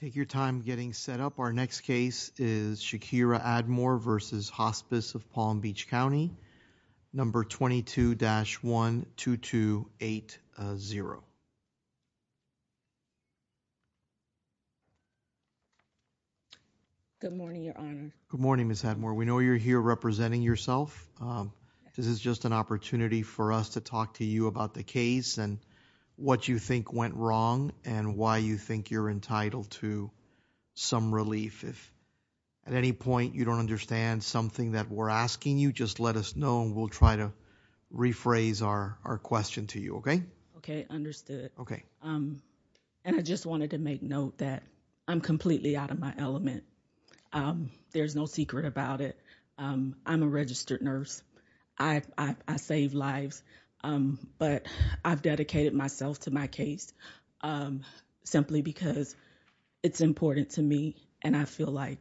We'll take your time getting set up. Our next case is Shakira Admore versus Hospice of Palm Beach County, number 22-12280. Good morning, Your Honor. Good morning, Ms. Admore. We know you're here representing yourself. This is just an opportunity for us to talk to you about the case and what you think went wrong and why you think you're entitled to some relief. If at any point you don't understand something that we're asking you, just let us know and we'll try to rephrase our question to you, okay? Okay. Understood. Okay. And I just wanted to make note that I'm completely out of my element. There's no secret about it. I'm a registered nurse. I save lives, but I've dedicated myself to my case simply because it's important to me and I feel like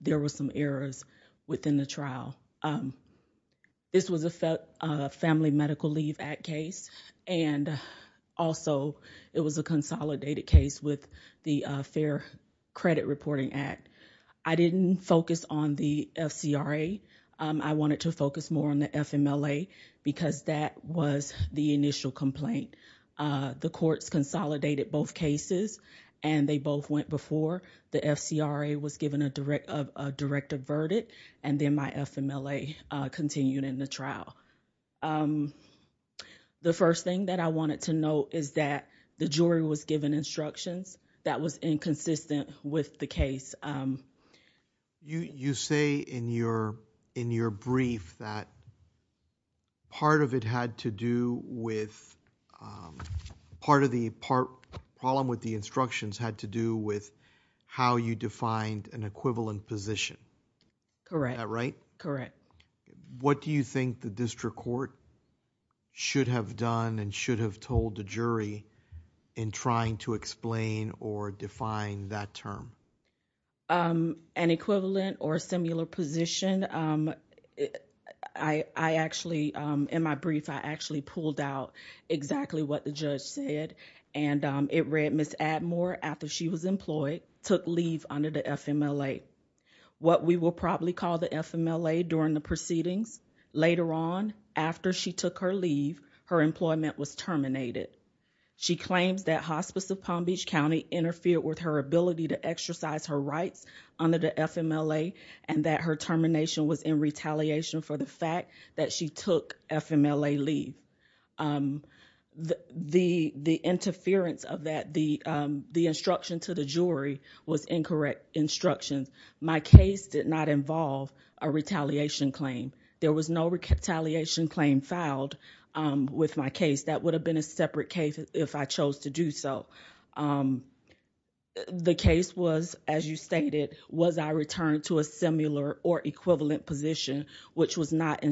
there were some errors within the trial. This was a Family Medical Leave Act case and also it was a consolidated case with the Fair Credit Reporting Act. I didn't focus on the FCRA. I wanted to focus more on the FMLA because that was the initial complaint. The courts consolidated both cases and they both went before. The FCRA was given a direct averted and then my FMLA continued in the trial. The first thing that I wanted to note is that the jury was given instructions. That was inconsistent with the case. You say in your brief that part of it had to do with, part of the problem with the instructions had to do with how you defined an equivalent position. Correct. Is that right? Correct. What do you think the district court should have done and should have told the jury in trying to explain or define that term? An equivalent or similar position, I actually, in my brief, I actually pulled out exactly what the judge said and it read, Ms. Atmore, after she was employed, took leave under the FMLA. What we will probably call the FMLA during the proceedings, later on, after she took her leave, her employment was terminated. She claims that Hospice of Palm Beach County interfered with her ability to exercise her rights under the FMLA and that her termination was in retaliation for the fact that she took FMLA leave. The interference of that, the instruction to the jury was incorrect instruction. My case did not involve a retaliation claim. There was no retaliation claim filed with my case. That would have been a separate case if I chose to do so. The case was, as you stated, was I returned to a similar or equivalent position which was not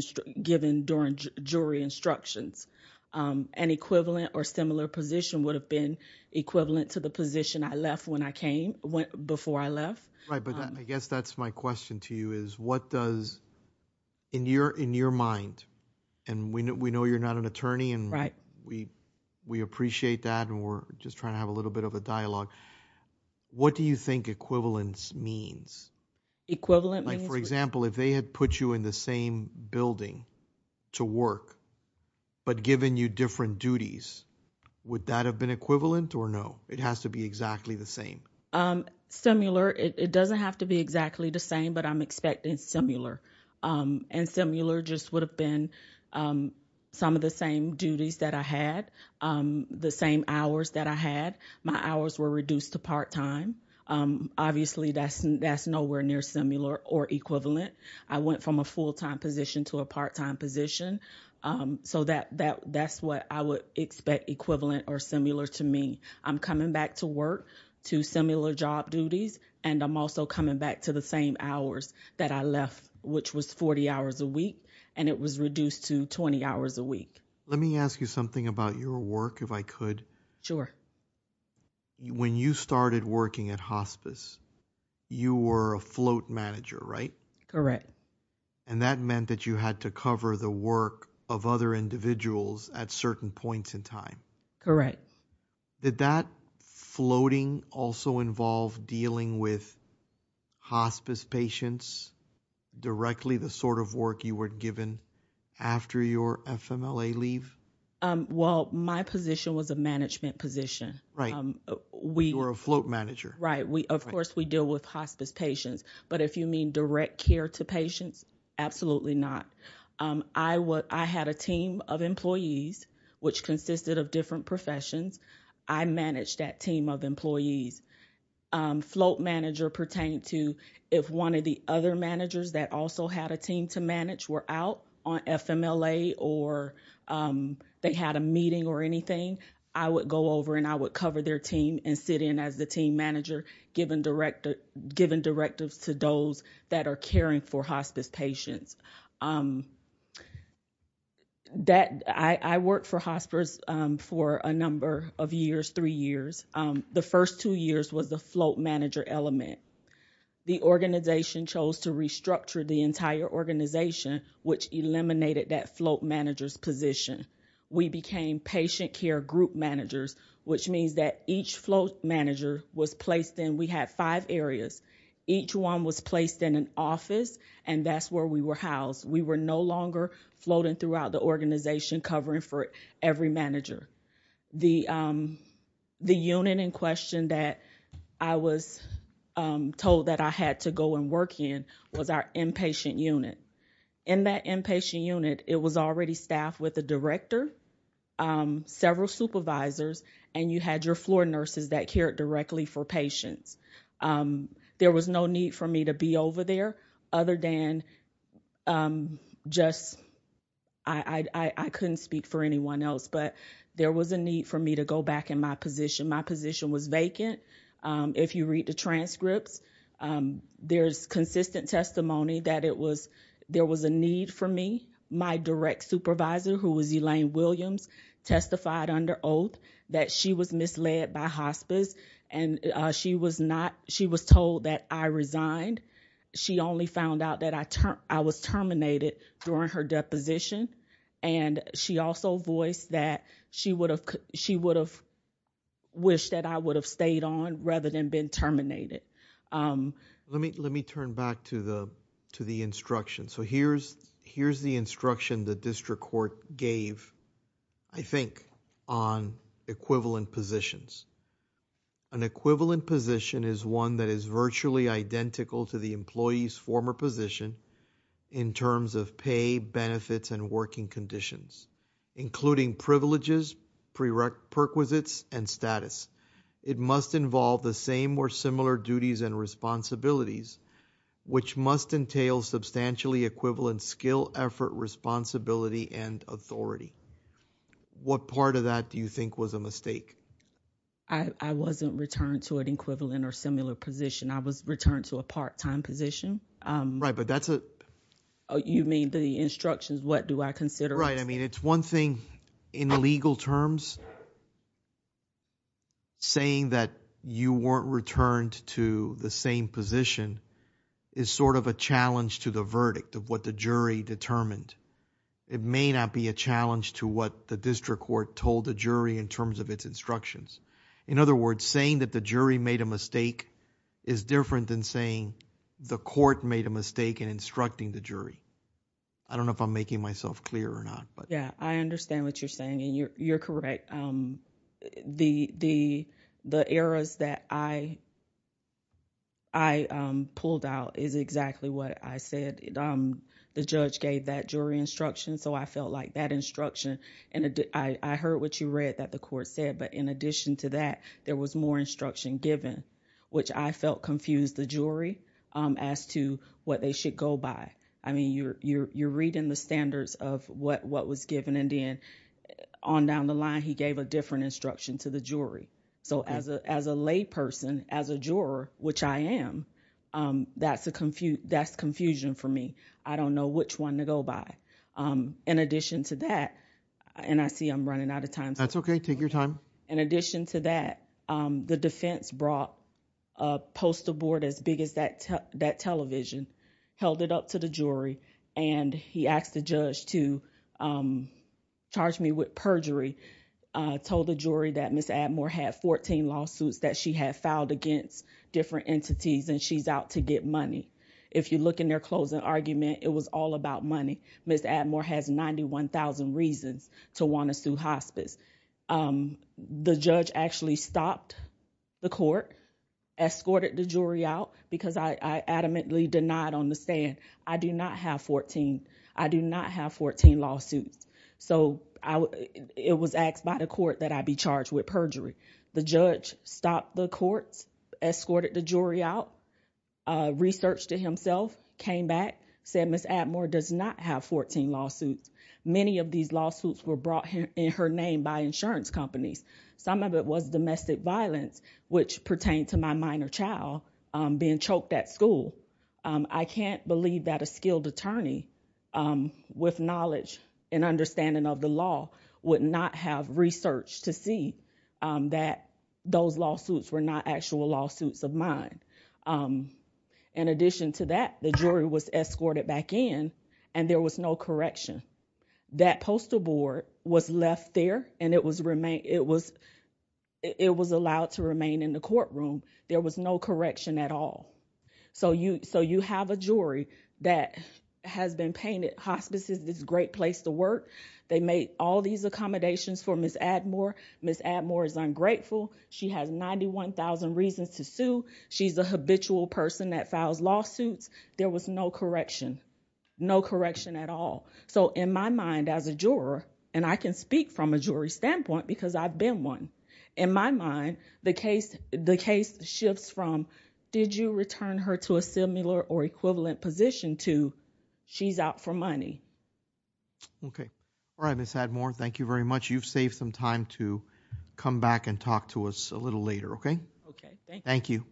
given during jury instructions. An equivalent or similar position would have been equivalent to the position I left when I came, before I left. Right, but I guess that's my question to you is what does, in your mind, and we know you're not an attorney and we appreciate that and we're just trying to have a little bit of a dialogue, what do you think equivalence means? Equivalent means? Like, for example, if they had put you in the same building to work, but given you different duties, would that have been equivalent or no? It has to be exactly the same. Similar, it doesn't have to be exactly the same, but I'm expecting similar. And similar just would have been some of the same duties that I had, the same hours that I had. My hours were reduced to part-time. Obviously that's nowhere near similar or equivalent. I went from a full-time position to a part-time position, so that's what I would expect equivalent or similar to me. I'm coming back to work to similar job duties and I'm also coming back to the same hours that I left, which was 40 hours a week and it was reduced to 20 hours a week. Let me ask you something about your work, if I could. Sure. When you started working at hospice, you were a float manager, right? Correct. And that meant that you had to cover the work of other individuals at certain points in time. Correct. Did that floating also involve dealing with hospice patients directly, the sort of work you were given after your FMLA leave? Well, my position was a management position. Right. You were a float manager. Right. Of course, we deal with hospice patients, but if you mean direct care to patients, absolutely not. I had a team of employees, which consisted of different professions. I managed that team of employees. Float manager pertained to if one of the other managers that also had a team to manage were out on FMLA or they had a meeting or anything, I would go over and I would cover their team and sit in as the team manager, giving directives to those that are caring for hospice patients. I worked for hospice for a number of years, three years. The first two years was the float manager element. The organization chose to restructure the entire organization, which eliminated that float manager's position. We became patient care group managers, which means that each float manager was placed in, we had five areas. Each one was placed in an office, and that's where we were housed. We were no longer floating throughout the organization covering for every manager. The unit in question that I was told that I had to go and work in was our inpatient unit. In that inpatient unit, it was already staffed with a director, several supervisors, and you had your floor nurses that cared directly for patients. There was no need for me to be over there other than just, I couldn't speak for anyone else, but there was a need for me to go back in my position. My position was vacant. If you read the transcripts, there's consistent testimony that there was a need for me. My direct supervisor, who was Elaine Williams, testified under oath that she was misled by hospice and she was told that I resigned. She only found out that I was terminated during her deposition. She also voiced that she would have wished that I would have stayed on rather than been terminated. Let me turn back to the instruction. Here's the instruction the district court gave, I think, on equivalent positions. An equivalent position is one that is virtually identical to the employee's former position in terms of pay, benefits, and working conditions, including privileges, prerequisites, and status. It must involve the same or similar duties and responsibilities, which must entail substantially equivalent skill, effort, responsibility, and authority. What part of that do you think was a mistake? I wasn't returned to an equivalent or similar position. I was returned to a part-time position. You mean the instructions, what do I consider a mistake? It's one thing in legal terms, saying that you weren't returned to the same position is sort of a challenge to the verdict of what the jury determined. It may not be a challenge to what the district court told the jury in terms of its instructions. In other words, saying that the jury made a mistake is different than saying the court made a mistake in instructing the jury. I don't know if I'm making myself clear or not. I understand what you're saying, and you're correct. The errors that I pulled out is exactly what I said. The judge gave that jury instruction, so I felt like that instruction... I heard what you read that the court said, but in addition to that, there was more instruction given, which I felt confused the jury as to what they should go by. You're reading the standards of what was given, and then on down the line, he gave a different instruction to the jury. As a lay person, as a juror, which I am, that's confusion for me. I don't know which one to go by. In addition to that, and I see I'm running out of time. That's okay. Take your time. In addition to that, the defense brought a postal board as big as that television, held it up to the jury, and he asked the judge to charge me with perjury, told the jury that Ms. Atmore had 14 lawsuits that she had filed against different entities, and she's out to get money. If you look in their closing argument, it was all about money. Ms. Atmore has 91,000 reasons to want to sue hospice. The judge actually stopped the court, escorted the jury out, because I adamantly denied on the stand, I do not have 14. I do not have 14 lawsuits. It was asked by the court that I be charged with perjury. The judge stopped the court, escorted the jury out, researched it himself, came back, said Ms. Atmore does not have 14 lawsuits. Many of these lawsuits were brought in her name by insurance companies. Some of it was domestic violence, which pertained to my minor child being choked at school. I can't believe that a skilled attorney with knowledge and understanding of the law would not have researched to see that those lawsuits were not actual lawsuits of mine. In addition to that, the jury was escorted back in, and there was no correction. That postal board was left there, and it was allowed to remain in the courtroom. There was no correction at all. So you have a jury that has been painted hospice is this great place to work. They made all these accommodations for Ms. Atmore. Ms. Atmore is ungrateful. She has 91,000 reasons to sue. She's a habitual person that files lawsuits. There was no correction, no correction at all. So in my mind as a juror, and I can speak from a jury standpoint because I've been one. In my mind, the case shifts from did you return her to a similar or equivalent position to she's out for money. Okay, all right, Ms. Atmore, thank you very much. You've saved some time to come back and talk to us a little later, okay? Okay, thank you. Thank you.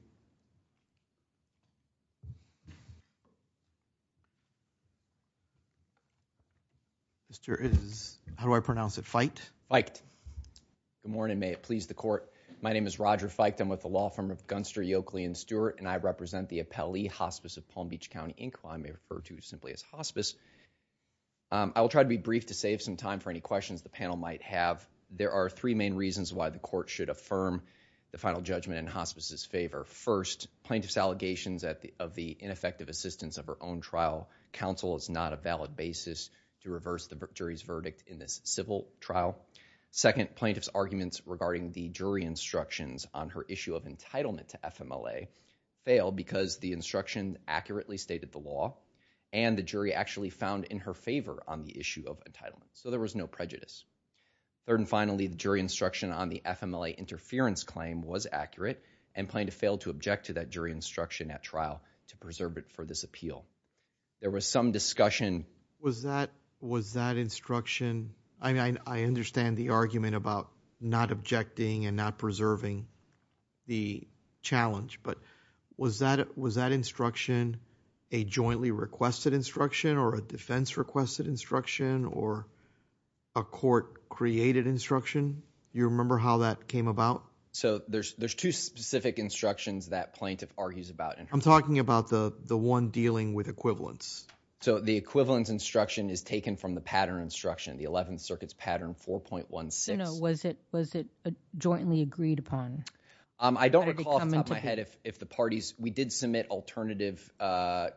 Mr. Is, how do I pronounce it, Feicht? Feicht. Good morning, may it please the court. My name is Roger Feicht. I'm with the law firm of Gunster, Yokeley, and Stewart. And I represent the appellee hospice of Palm Beach County Inclined, may refer to simply as hospice. I will try to be brief to save some time for any questions the panel might have. There are three main reasons why the court should affirm the final judgment in hospice's favor. First, plaintiff's allegations of the ineffective assistance of her own trial counsel is not a valid basis to reverse the jury's verdict in this civil trial. Second, plaintiff's arguments regarding the jury instructions on her issue of entitlement to FMLA failed because the instruction accurately stated the law. And the jury actually found in her favor on the issue of entitlement, so there was no prejudice. Third and finally, the jury instruction on the FMLA interference claim was accurate and plaintiff failed to object to that jury instruction at trial to preserve it for this appeal. There was some discussion. Was that instruction, I understand the argument about not objecting and not preserving the challenge, but was that instruction a jointly requested instruction or a defense requested instruction or a court created instruction? You remember how that came about? So there's two specific instructions that plaintiff argues about. I'm talking about the one dealing with equivalence. So the equivalence instruction is taken from the pattern instruction, the 11th Circuit's pattern 4.16. No, was it jointly agreed upon? I don't recall off the top of my head if the parties, we did submit alternative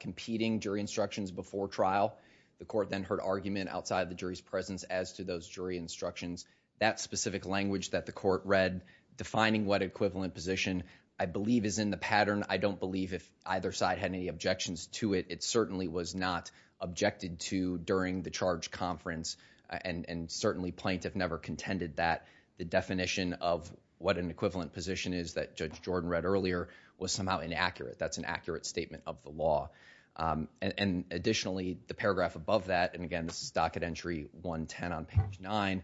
competing jury instructions before trial. The court then heard argument outside of the jury's presence as to those jury instructions. That specific language that the court read, defining what equivalent position I believe is in the pattern. I don't believe if either side had any objections to it. It certainly was not objected to during the charge conference and certainly plaintiff never contended that the definition of what an equivalent position is that Judge Jordan read earlier was somehow inaccurate. That's an accurate statement of the law. And additionally, the paragraph above that, and again this is docket entry 110 on page nine.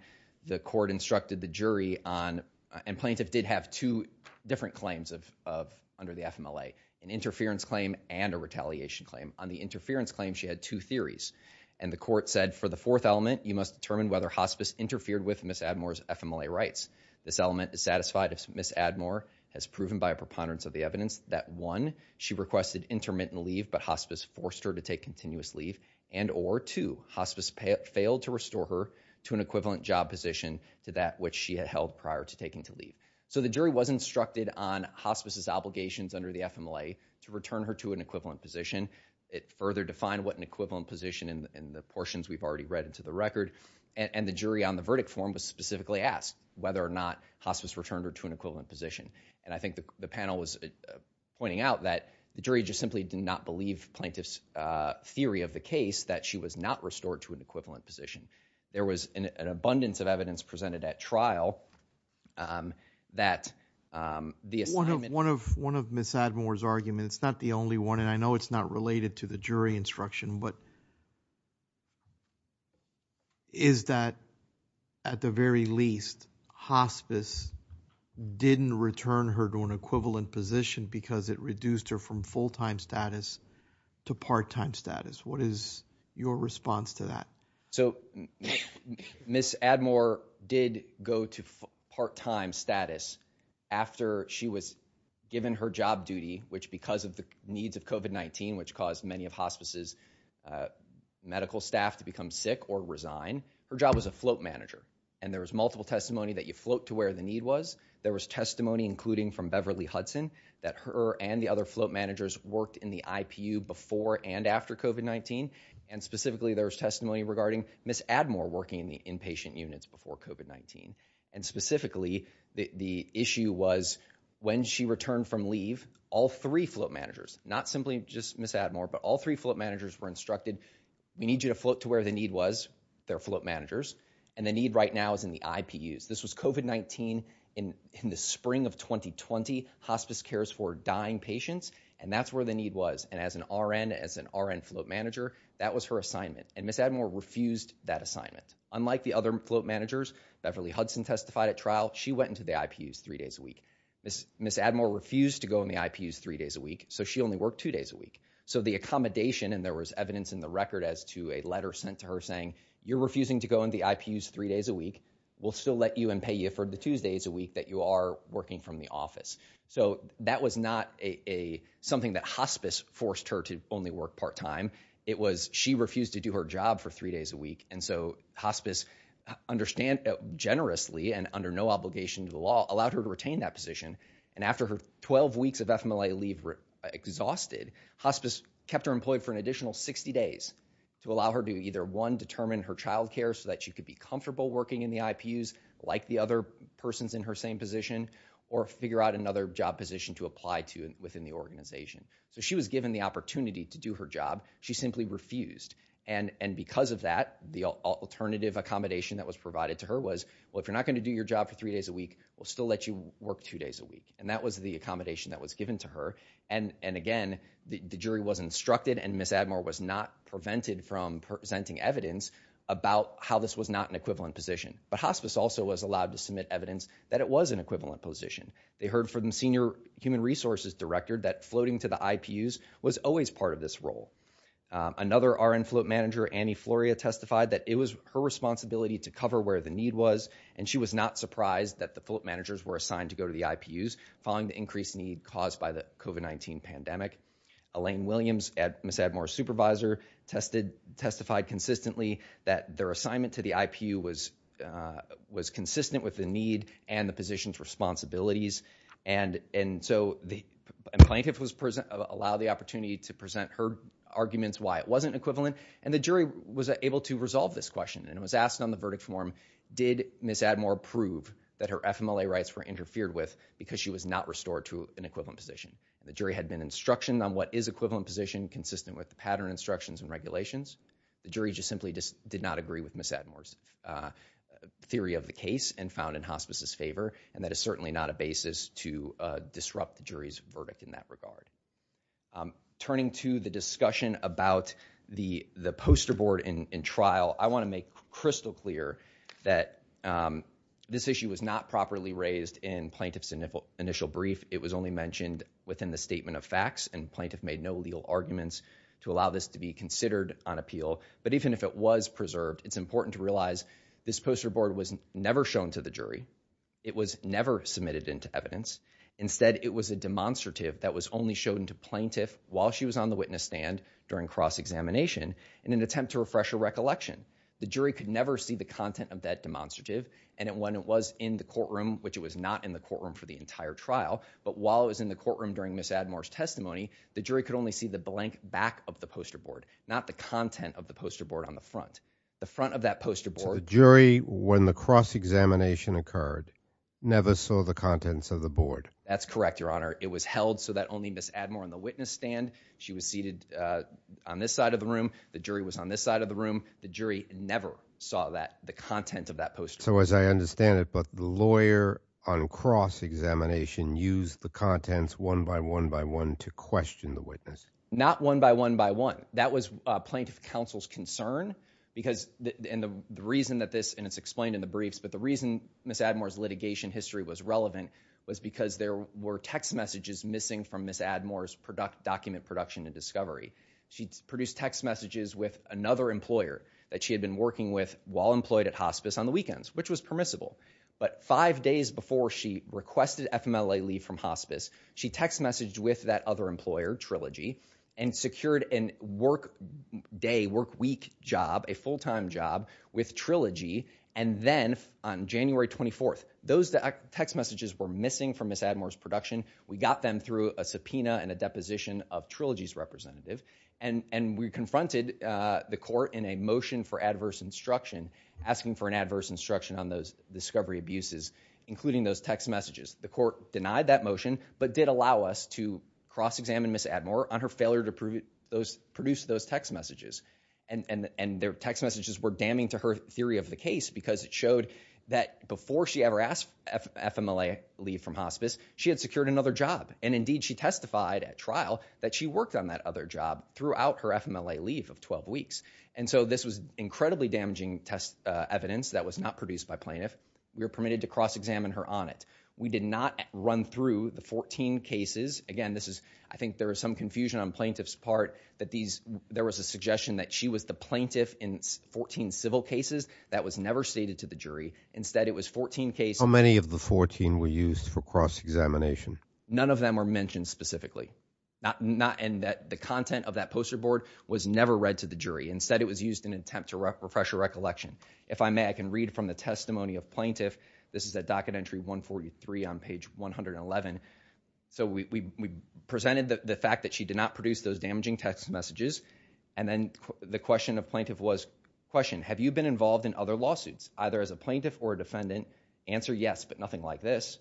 The court instructed the jury on, and plaintiff did have two different claims under the FMLA. An interference claim and a retaliation claim. On the interference claim, she had two theories. And the court said for the fourth element, you must determine whether hospice interfered with Ms. Admore's FMLA rights. This element is satisfied if Ms. Admore has proven by a preponderance of the evidence that one, she requested intermittent leave but hospice forced her to take continuous leave. And or two, hospice failed to restore her to an equivalent job position to that which she had held prior to taking to leave. So the jury was instructed on hospice's obligations under the FMLA to return her to an equivalent position. It further defined what an equivalent position in the portions we've already read into the record. And the jury on the verdict form was specifically asked whether or not hospice returned her to an equivalent position. And I think the panel was pointing out that the jury just simply did not believe plaintiff's theory of the case that she was not restored to an equivalent position. There was an abundance of evidence presented at trial that the assignment- One of Ms. Admore's arguments, it's not the only one, and I know it's not related to the jury instruction, but Is that, at the very least, hospice didn't return her to an equivalent position because it reduced her from full-time status to part-time status. What is your response to that? So Ms. Admore did go to part-time status after she was given her job duty, which because of the needs of COVID-19, which caused many of hospice's medical staff to become sick or resign. Her job was a float manager, and there was multiple testimony that you float to where the need was. There was testimony, including from Beverly Hudson, that her and the other float managers worked in the IPU before and after COVID-19. And specifically, there was testimony regarding Ms. Admore working in the inpatient units before COVID-19. And specifically, the issue was when she returned from leave, all three float managers, not simply just Ms. Admore, but all three float managers were instructed, we need you to float to where the need was, their float managers. And the need right now is in the IPUs. This was COVID-19 in the spring of 2020, hospice cares for dying patients, and that's where the need was. And as an RN, as an RN float manager, that was her assignment. And Ms. Admore refused that assignment. Unlike the other float managers, Beverly Hudson testified at trial, she went into the IPUs three days a week. Ms. Admore refused to go in the IPUs three days a week, so she only worked two days a week. So the accommodation, and there was evidence in the record as to a letter sent to her saying, you're refusing to go in the IPUs three days a week. We'll still let you and pay you for the Tuesdays a week that you are working from the office. So that was not something that hospice forced her to only work part time. It was, she refused to do her job for three days a week. And so hospice understand generously and under no obligation to the law, allowed her to retain that position. And after her 12 weeks of FMLA leave exhausted, hospice kept her employed for an additional 60 days to allow her to either one, determine her childcare so that she could be comfortable working in the IPUs like the other persons in her same position, or figure out another job position to apply to within the organization. So she was given the opportunity to do her job, she simply refused. And because of that, the alternative accommodation that was provided to her was, well, you're not gonna do your job for three days a week, we'll still let you work two days a week. And that was the accommodation that was given to her. And again, the jury was instructed and Ms. Atmore was not prevented from presenting evidence about how this was not an equivalent position. But hospice also was allowed to submit evidence that it was an equivalent position. They heard from the senior human resources director that floating to the IPUs was always part of this role. Another RN float manager, Annie Floria, testified that it was her responsibility to cover where the need was. And she was not surprised that the float managers were assigned to go to the IPUs following the increased need caused by the COVID-19 pandemic. Elaine Williams, Ms. Atmore's supervisor, testified consistently that their assignment to the IPU was consistent with the need and the position's responsibilities. And so the plaintiff was allowed the opportunity to present her arguments why it wasn't equivalent, and the jury was able to resolve this question. And it was asked on the verdict form, did Ms. Atmore prove that her FMLA rights were interfered with because she was not restored to an equivalent position? The jury had been instructioned on what is equivalent position, consistent with the pattern instructions and regulations. The jury just simply did not agree with Ms. Atmore's theory of the case and found in hospice's favor, and that is certainly not a basis to disrupt the jury's verdict in that regard. Turning to the discussion about the poster board in trial, I want to make crystal clear that this issue was not properly raised in plaintiff's initial brief. It was only mentioned within the statement of facts, and plaintiff made no legal arguments to allow this to be considered on appeal. But even if it was preserved, it's important to realize this poster board was never shown to the jury, it was never submitted into evidence. Instead, it was a demonstrative that was only shown to plaintiff while she was on recollection. The jury could never see the content of that demonstrative. And when it was in the courtroom, which it was not in the courtroom for the entire trial, but while it was in the courtroom during Ms. Atmore's testimony, the jury could only see the blank back of the poster board, not the content of the poster board on the front. The front of that poster board- So the jury, when the cross-examination occurred, never saw the contents of the board? That's correct, Your Honor. It was held so that only Ms. Atmore on the witness stand, she was seated on this side of the room. The jury was on this side of the room. The jury never saw that, the content of that poster. So as I understand it, but the lawyer on cross-examination used the contents one by one by one to question the witness. Not one by one by one. That was plaintiff counsel's concern, because the reason that this, and it's explained in the briefs, but the reason Ms. Atmore's litigation history was relevant was because there were text messages missing from Ms. Atmore's document production and discovery. She produced text messages with another employer that she had been working with while employed at hospice on the weekends, which was permissible. But five days before she requested FMLA leave from hospice, she text messaged with that other employer, Trilogy, and secured a work day, work week job, a full time job with Trilogy. And then on January 24th, those text messages were missing from Ms. Atmore's production. We got them through a subpoena and a deposition of Trilogy's representative. And we confronted the court in a motion for adverse instruction, asking for an adverse instruction on those discovery abuses, including those text messages. The court denied that motion, but did allow us to cross-examine Ms. Atmore on her failure to produce those text messages. And their text messages were damning to her theory of the case, because it showed that before she ever asked FMLA leave from hospice, she had secured another job. And indeed, she testified at trial that she worked on that other job throughout her FMLA leave of 12 weeks. And so this was incredibly damaging test evidence that was not produced by plaintiff. We were permitted to cross-examine her on it. We did not run through the 14 cases. Again, I think there was some confusion on plaintiff's part, that there was a suggestion that she was the plaintiff in 14 civil cases. That was never stated to the jury. Instead, it was 14 cases. How many of the 14 were used for cross-examination? None of them were mentioned specifically. And the content of that poster board was never read to the jury. Instead, it was used in an attempt to refresh a recollection. If I may, I can read from the testimony of plaintiff. This is at docket entry 143 on page 111. So we presented the fact that she did not produce those damaging text messages. And then the question of plaintiff was, question, have you been involved in other lawsuits, either as a plaintiff or a defendant? Answer, yes, but nothing like this.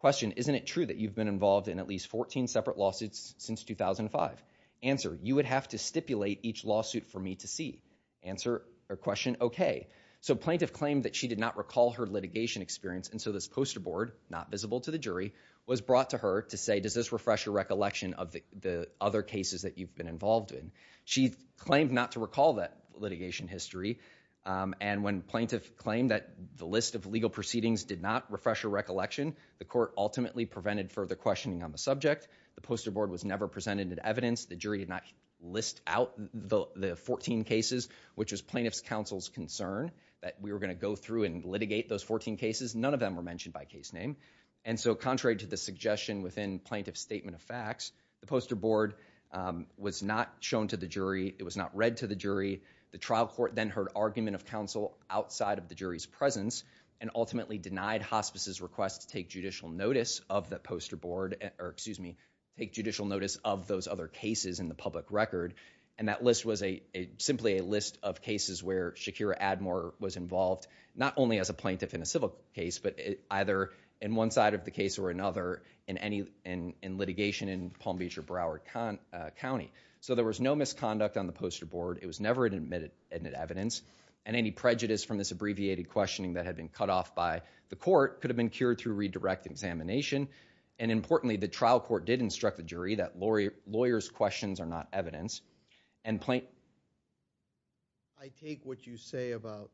Question, isn't it true that you've been involved in at least 14 separate lawsuits since 2005? Answer, you would have to stipulate each lawsuit for me to see. Answer, or question, okay. So plaintiff claimed that she did not recall her litigation experience. And so this poster board, not visible to the jury, was brought to her to say, does this refresh your recollection of the other cases that you've been involved in? She claimed not to recall that litigation history. And when plaintiff claimed that the list of legal proceedings did not refresh her recollection, the court ultimately prevented further questioning on the subject. The poster board was never presented with evidence. The jury did not list out the 14 cases, which was plaintiff's counsel's concern, that we were gonna go through and litigate those 14 cases. None of them were mentioned by case name. And so contrary to the suggestion within plaintiff's statement of facts, the poster board was not shown to the jury. It was not read to the jury. The trial court then heard argument of counsel outside of the jury's presence, and ultimately denied hospice's request to take judicial notice of the poster board, or excuse me, take judicial notice of those other cases in the public record. And that list was simply a list of cases where Shakira Admore was involved, not only as a plaintiff in a civil case, but either in one side of the case or another in litigation in Palm Beach or Broward County. So there was no misconduct on the poster board. It was never admitted evidence. And any prejudice from this abbreviated questioning that had been cut off by the court could have been cured through redirect examination. And importantly, the trial court did instruct the jury that lawyers' questions are not evidence. And plaintiff, I take what you say about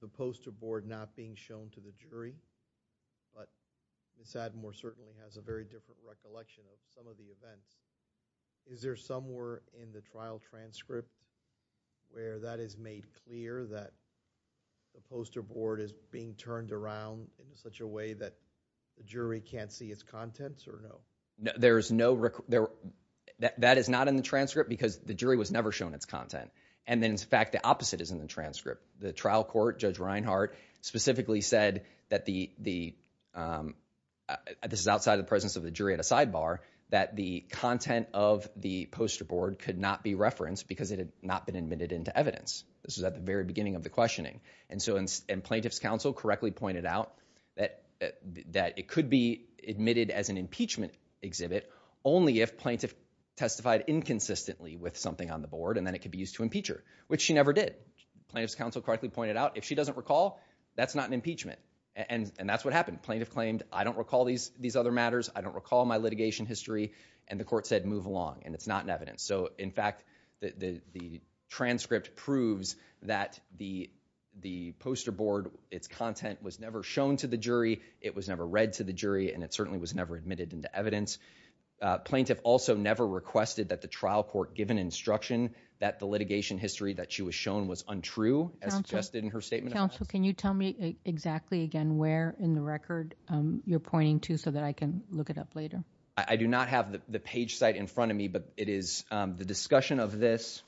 the poster board not being shown to the jury, but Ms. Admore certainly has a very different recollection of some of the events. Is there somewhere in the trial transcript where that is made clear that the poster board is being turned around in such a way that the jury can't see its contents or no? There's no, that is not in the transcript because the jury was never shown its content, and then in fact the opposite is in the transcript. The trial court, Judge Reinhart, specifically said that the, this is outside of the presence of the jury at a sidebar, that the content of the poster board could not be referenced because it had not been admitted into evidence. This was at the very beginning of the questioning. And so, and plaintiff's counsel correctly pointed out that it could be admitted as an impeachment exhibit only if plaintiff testified inconsistently with something on the board and then it could be used to impeach her, which she never did. Plaintiff's counsel correctly pointed out, if she doesn't recall, that's not an impeachment. And that's what happened. Plaintiff claimed, I don't recall these other matters. I don't recall my litigation history. And the court said, move along, and it's not in evidence. So, in fact, the transcript proves that the poster board, its content was never shown to the jury, it was never read to the jury, and it certainly was never admitted into evidence. Plaintiff also never requested that the trial court give an instruction that the litigation history that she was shown was untrue, as suggested in her statement. Counsel, can you tell me exactly again where in the record you're pointing to so that I can look it up later? I do not have the page site in front of me, but it is the discussion of this.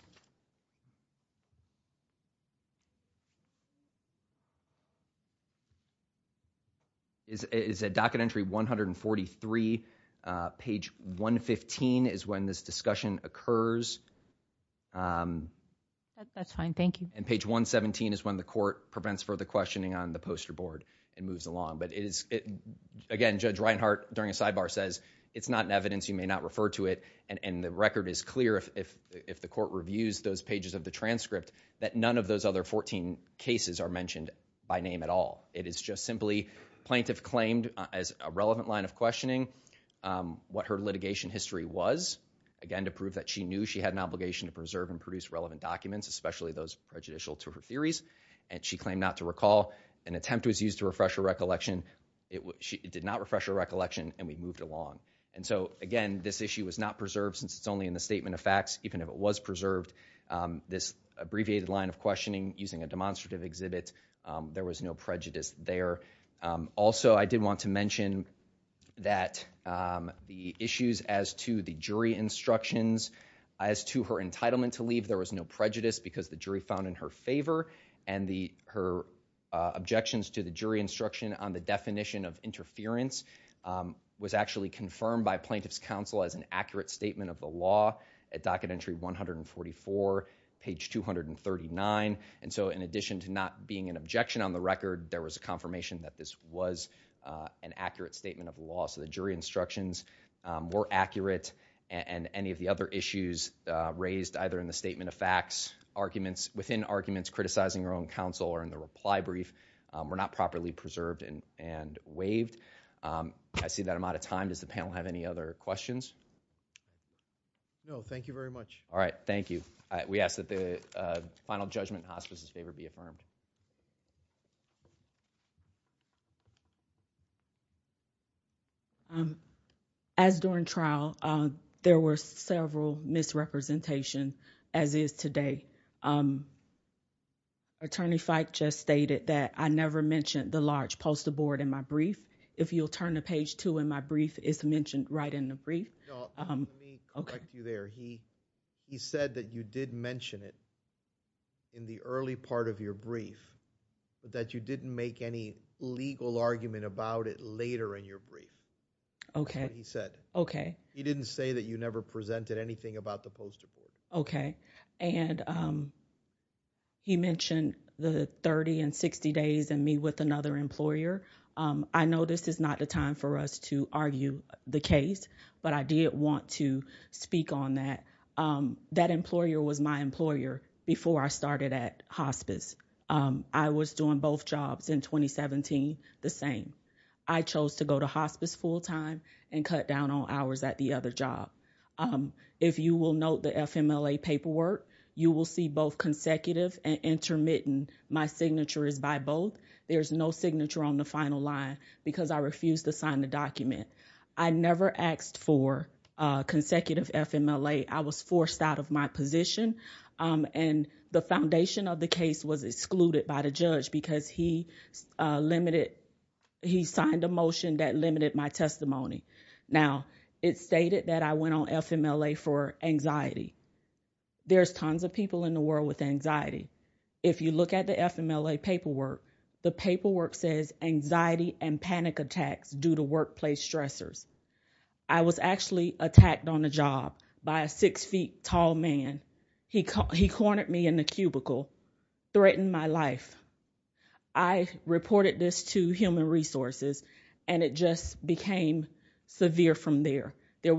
Is a docket entry 143, page 115 is when this discussion occurs. That's fine, thank you. And page 117 is when the court prevents further questioning on the poster board and moves along. But again, Judge Reinhart during a sidebar says, it's not in evidence, you may not refer to it. And the record is clear if the court reviews those pages of the transcript that none of those other 14 cases are mentioned by name at all. It is just simply plaintiff claimed as a relevant line of questioning what her litigation history was. Again, to prove that she knew she had an obligation to preserve and produce relevant documents, especially those prejudicial to her theories. And she claimed not to recall. An attempt was used to refresh her recollection. It did not refresh her recollection and we moved along. And so again, this issue was not preserved since it's only in the statement of facts. Even if it was preserved, this abbreviated line of questioning using a demonstrative exhibit, there was no prejudice there. Also, I did want to mention that the issues as to the jury instructions, as to her entitlement to leave, there was no prejudice because the jury found in her favor. And her objections to the jury instruction on the definition of interference was actually confirmed by plaintiff's counsel as an accurate statement of the law at docket entry 144, page 239. And so in addition to not being an objection on the record, there was a confirmation that this was an accurate statement of the law. So the jury instructions were accurate. And any of the other issues raised either in the statement of facts, within arguments criticizing her own counsel, or in the reply brief, were not properly preserved and waived. I see that I'm out of time. Does the panel have any other questions? No, thank you very much. All right, thank you. We ask that the final judgment in hospice's favor be affirmed. As during trial, there were several misrepresentation, as is today. Attorney Fike just stated that I never mentioned the large poster board in my brief, if you'll turn to page two in my brief, it's mentioned right in the brief. No, let me correct you there. He said that you did mention it in the early part of your brief. But that you didn't make any legal argument about it later in your brief. Okay. That's what he said. Okay. He didn't say that you never presented anything about the poster board. Okay, and he mentioned the 30 and 60 days and me with another employer. I know this is not the time for us to argue the case, but I did want to speak on that. That employer was my employer before I started at hospice. I was doing both jobs in 2017 the same. I chose to go to hospice full time and cut down on hours at the other job. If you will note the FMLA paperwork, you will see both consecutive and intermittent, my signature is by both. There's no signature on the final line because I refused to sign the document. I never asked for consecutive FMLA. I was forced out of my position, and the foundation of the case was excluded by the judge because he signed a motion that limited my testimony. Now, it's stated that I went on FMLA for anxiety. There's tons of people in the world with anxiety. If you look at the FMLA paperwork, the paperwork says anxiety and panic attacks due to workplace stressors. I was actually attacked on the job by a six feet tall man. He cornered me in the cubicle, threatened my life. I reported this to human resources, and it just became severe from there. The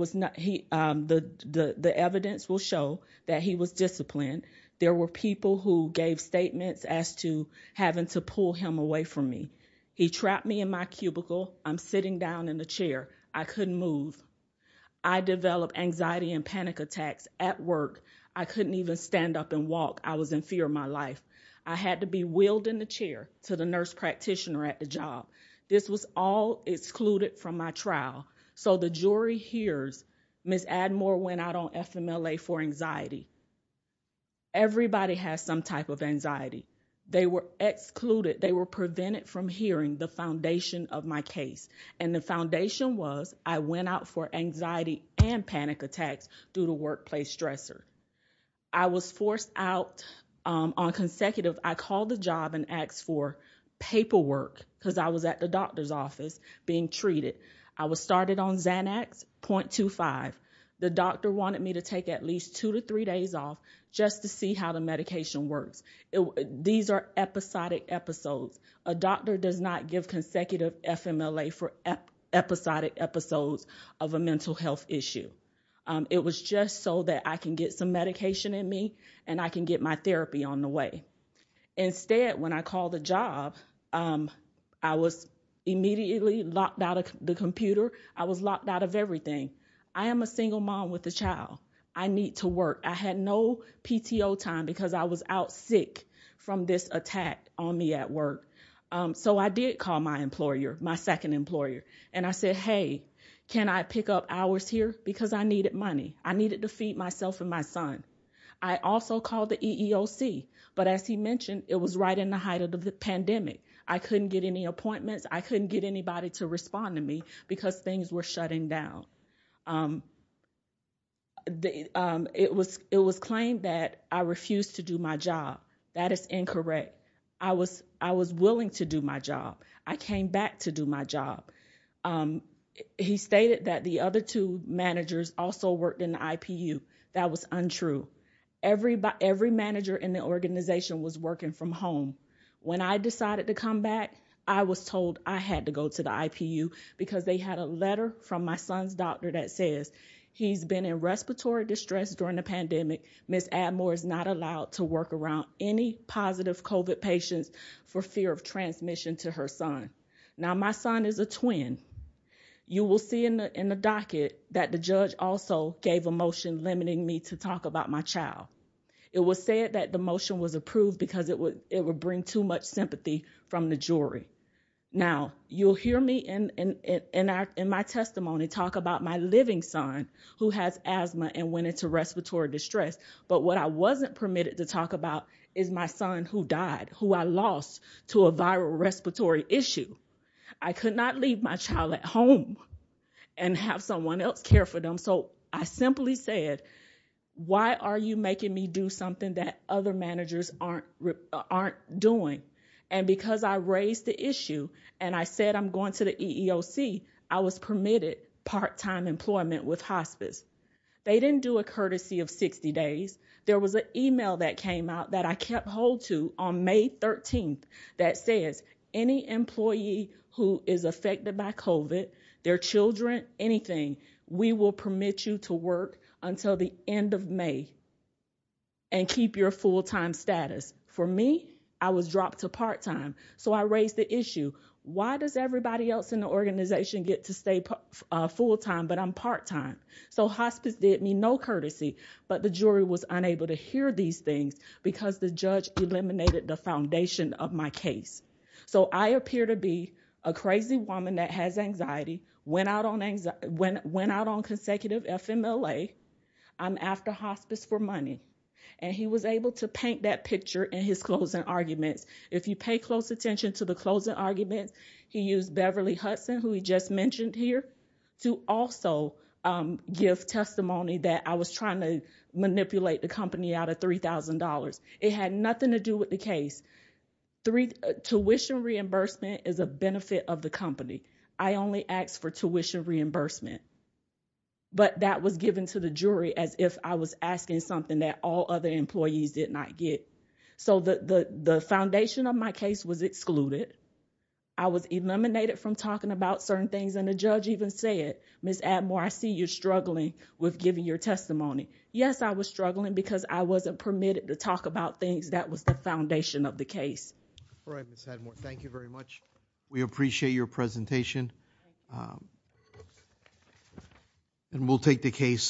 evidence will show that he was disciplined. There were people who gave statements as to having to pull him away from me. He trapped me in my cubicle. I'm sitting down in the chair. I couldn't move. I developed anxiety and panic attacks at work. I couldn't even stand up and walk. I was in fear of my life. I had to be wheeled in the chair to the nurse practitioner at the job. This was all excluded from my trial. So the jury hears Ms. Admore went out on FMLA for anxiety. Everybody has some type of anxiety. They were excluded. They were prevented from hearing the foundation of my case. And the foundation was I went out for anxiety and panic attacks due to workplace stressor. I was forced out on consecutive, I called the job and asked for paperwork cuz I was at the doctor's office being treated. I was started on Xanax, 0.25. The doctor wanted me to take at least two to three days off just to see how the medication works. These are episodic episodes. A doctor does not give consecutive FMLA for episodic episodes of a mental health issue. It was just so that I can get some medication in me and I can get my therapy on the way. Instead, when I called the job, I was immediately locked out of the computer. I was locked out of everything. I am a single mom with a child. I need to work. I had no PTO time because I was out sick from this attack on me at work. So I did call my employer, my second employer. And I said, hey, can I pick up hours here? Because I needed money. I needed to feed myself and my son. I also called the EEOC. But as he mentioned, it was right in the height of the pandemic. I couldn't get any appointments. I couldn't get anybody to respond to me because things were shutting down. It was claimed that I refused to do my job. That is incorrect. I was willing to do my job. I came back to do my job. He stated that the other two managers also worked in the IPU. That was untrue. Every manager in the organization was working from home. When I decided to come back, I was told I had to go to the IPU because they had a letter from my son's doctor that says, he's been in respiratory distress during the pandemic. Ms. Admore is not allowed to work around any positive COVID patients for fear of transmission to her son. Now, my son is a twin. You will see in the docket that the judge also gave a motion limiting me to talk about my child. It was said that the motion was approved because it would bring too much sympathy from the jury. Now, you'll hear me in my testimony talk about my living son who has asthma and went into respiratory distress. But what I wasn't permitted to talk about is my son who died, who I lost to a viral respiratory issue. I could not leave my child at home and have someone else care for them. So I simply said, why are you making me do something that other managers aren't doing? And because I raised the issue and I said I'm going to the EEOC, I was permitted part-time employment with hospice. They didn't do a courtesy of 60 days. There was an email that came out that I kept hold to on May 13th that says, any employee who is affected by COVID, their children, anything, we will permit you to work until the end of May and keep your full-time status. For me, I was dropped to part-time. So I raised the issue, why does everybody else in the organization get to stay full-time but I'm part-time? So hospice did me no courtesy, but the jury was unable to hear these things because the judge eliminated the foundation of my case. So I appear to be a crazy woman that has anxiety, went out on consecutive FMLA. I'm after hospice for money. And he was able to paint that picture in his closing arguments. If you pay close attention to the closing arguments, he used Beverly Hudson, who we just mentioned here, to also give testimony that I was trying to manipulate the company out of $3,000. It had nothing to do with the case. Tuition reimbursement is a benefit of the company. I only asked for tuition reimbursement. But that was given to the jury as if I was asking something that all other employees did not get. So the foundation of my case was excluded. I was eliminated from talking about certain things. And the judge even said, Ms. Atmore, I see you're struggling with giving your testimony. Yes, I was struggling because I wasn't permitted to talk about things. That was the foundation of the case. We appreciate your presentation. And we'll take the case.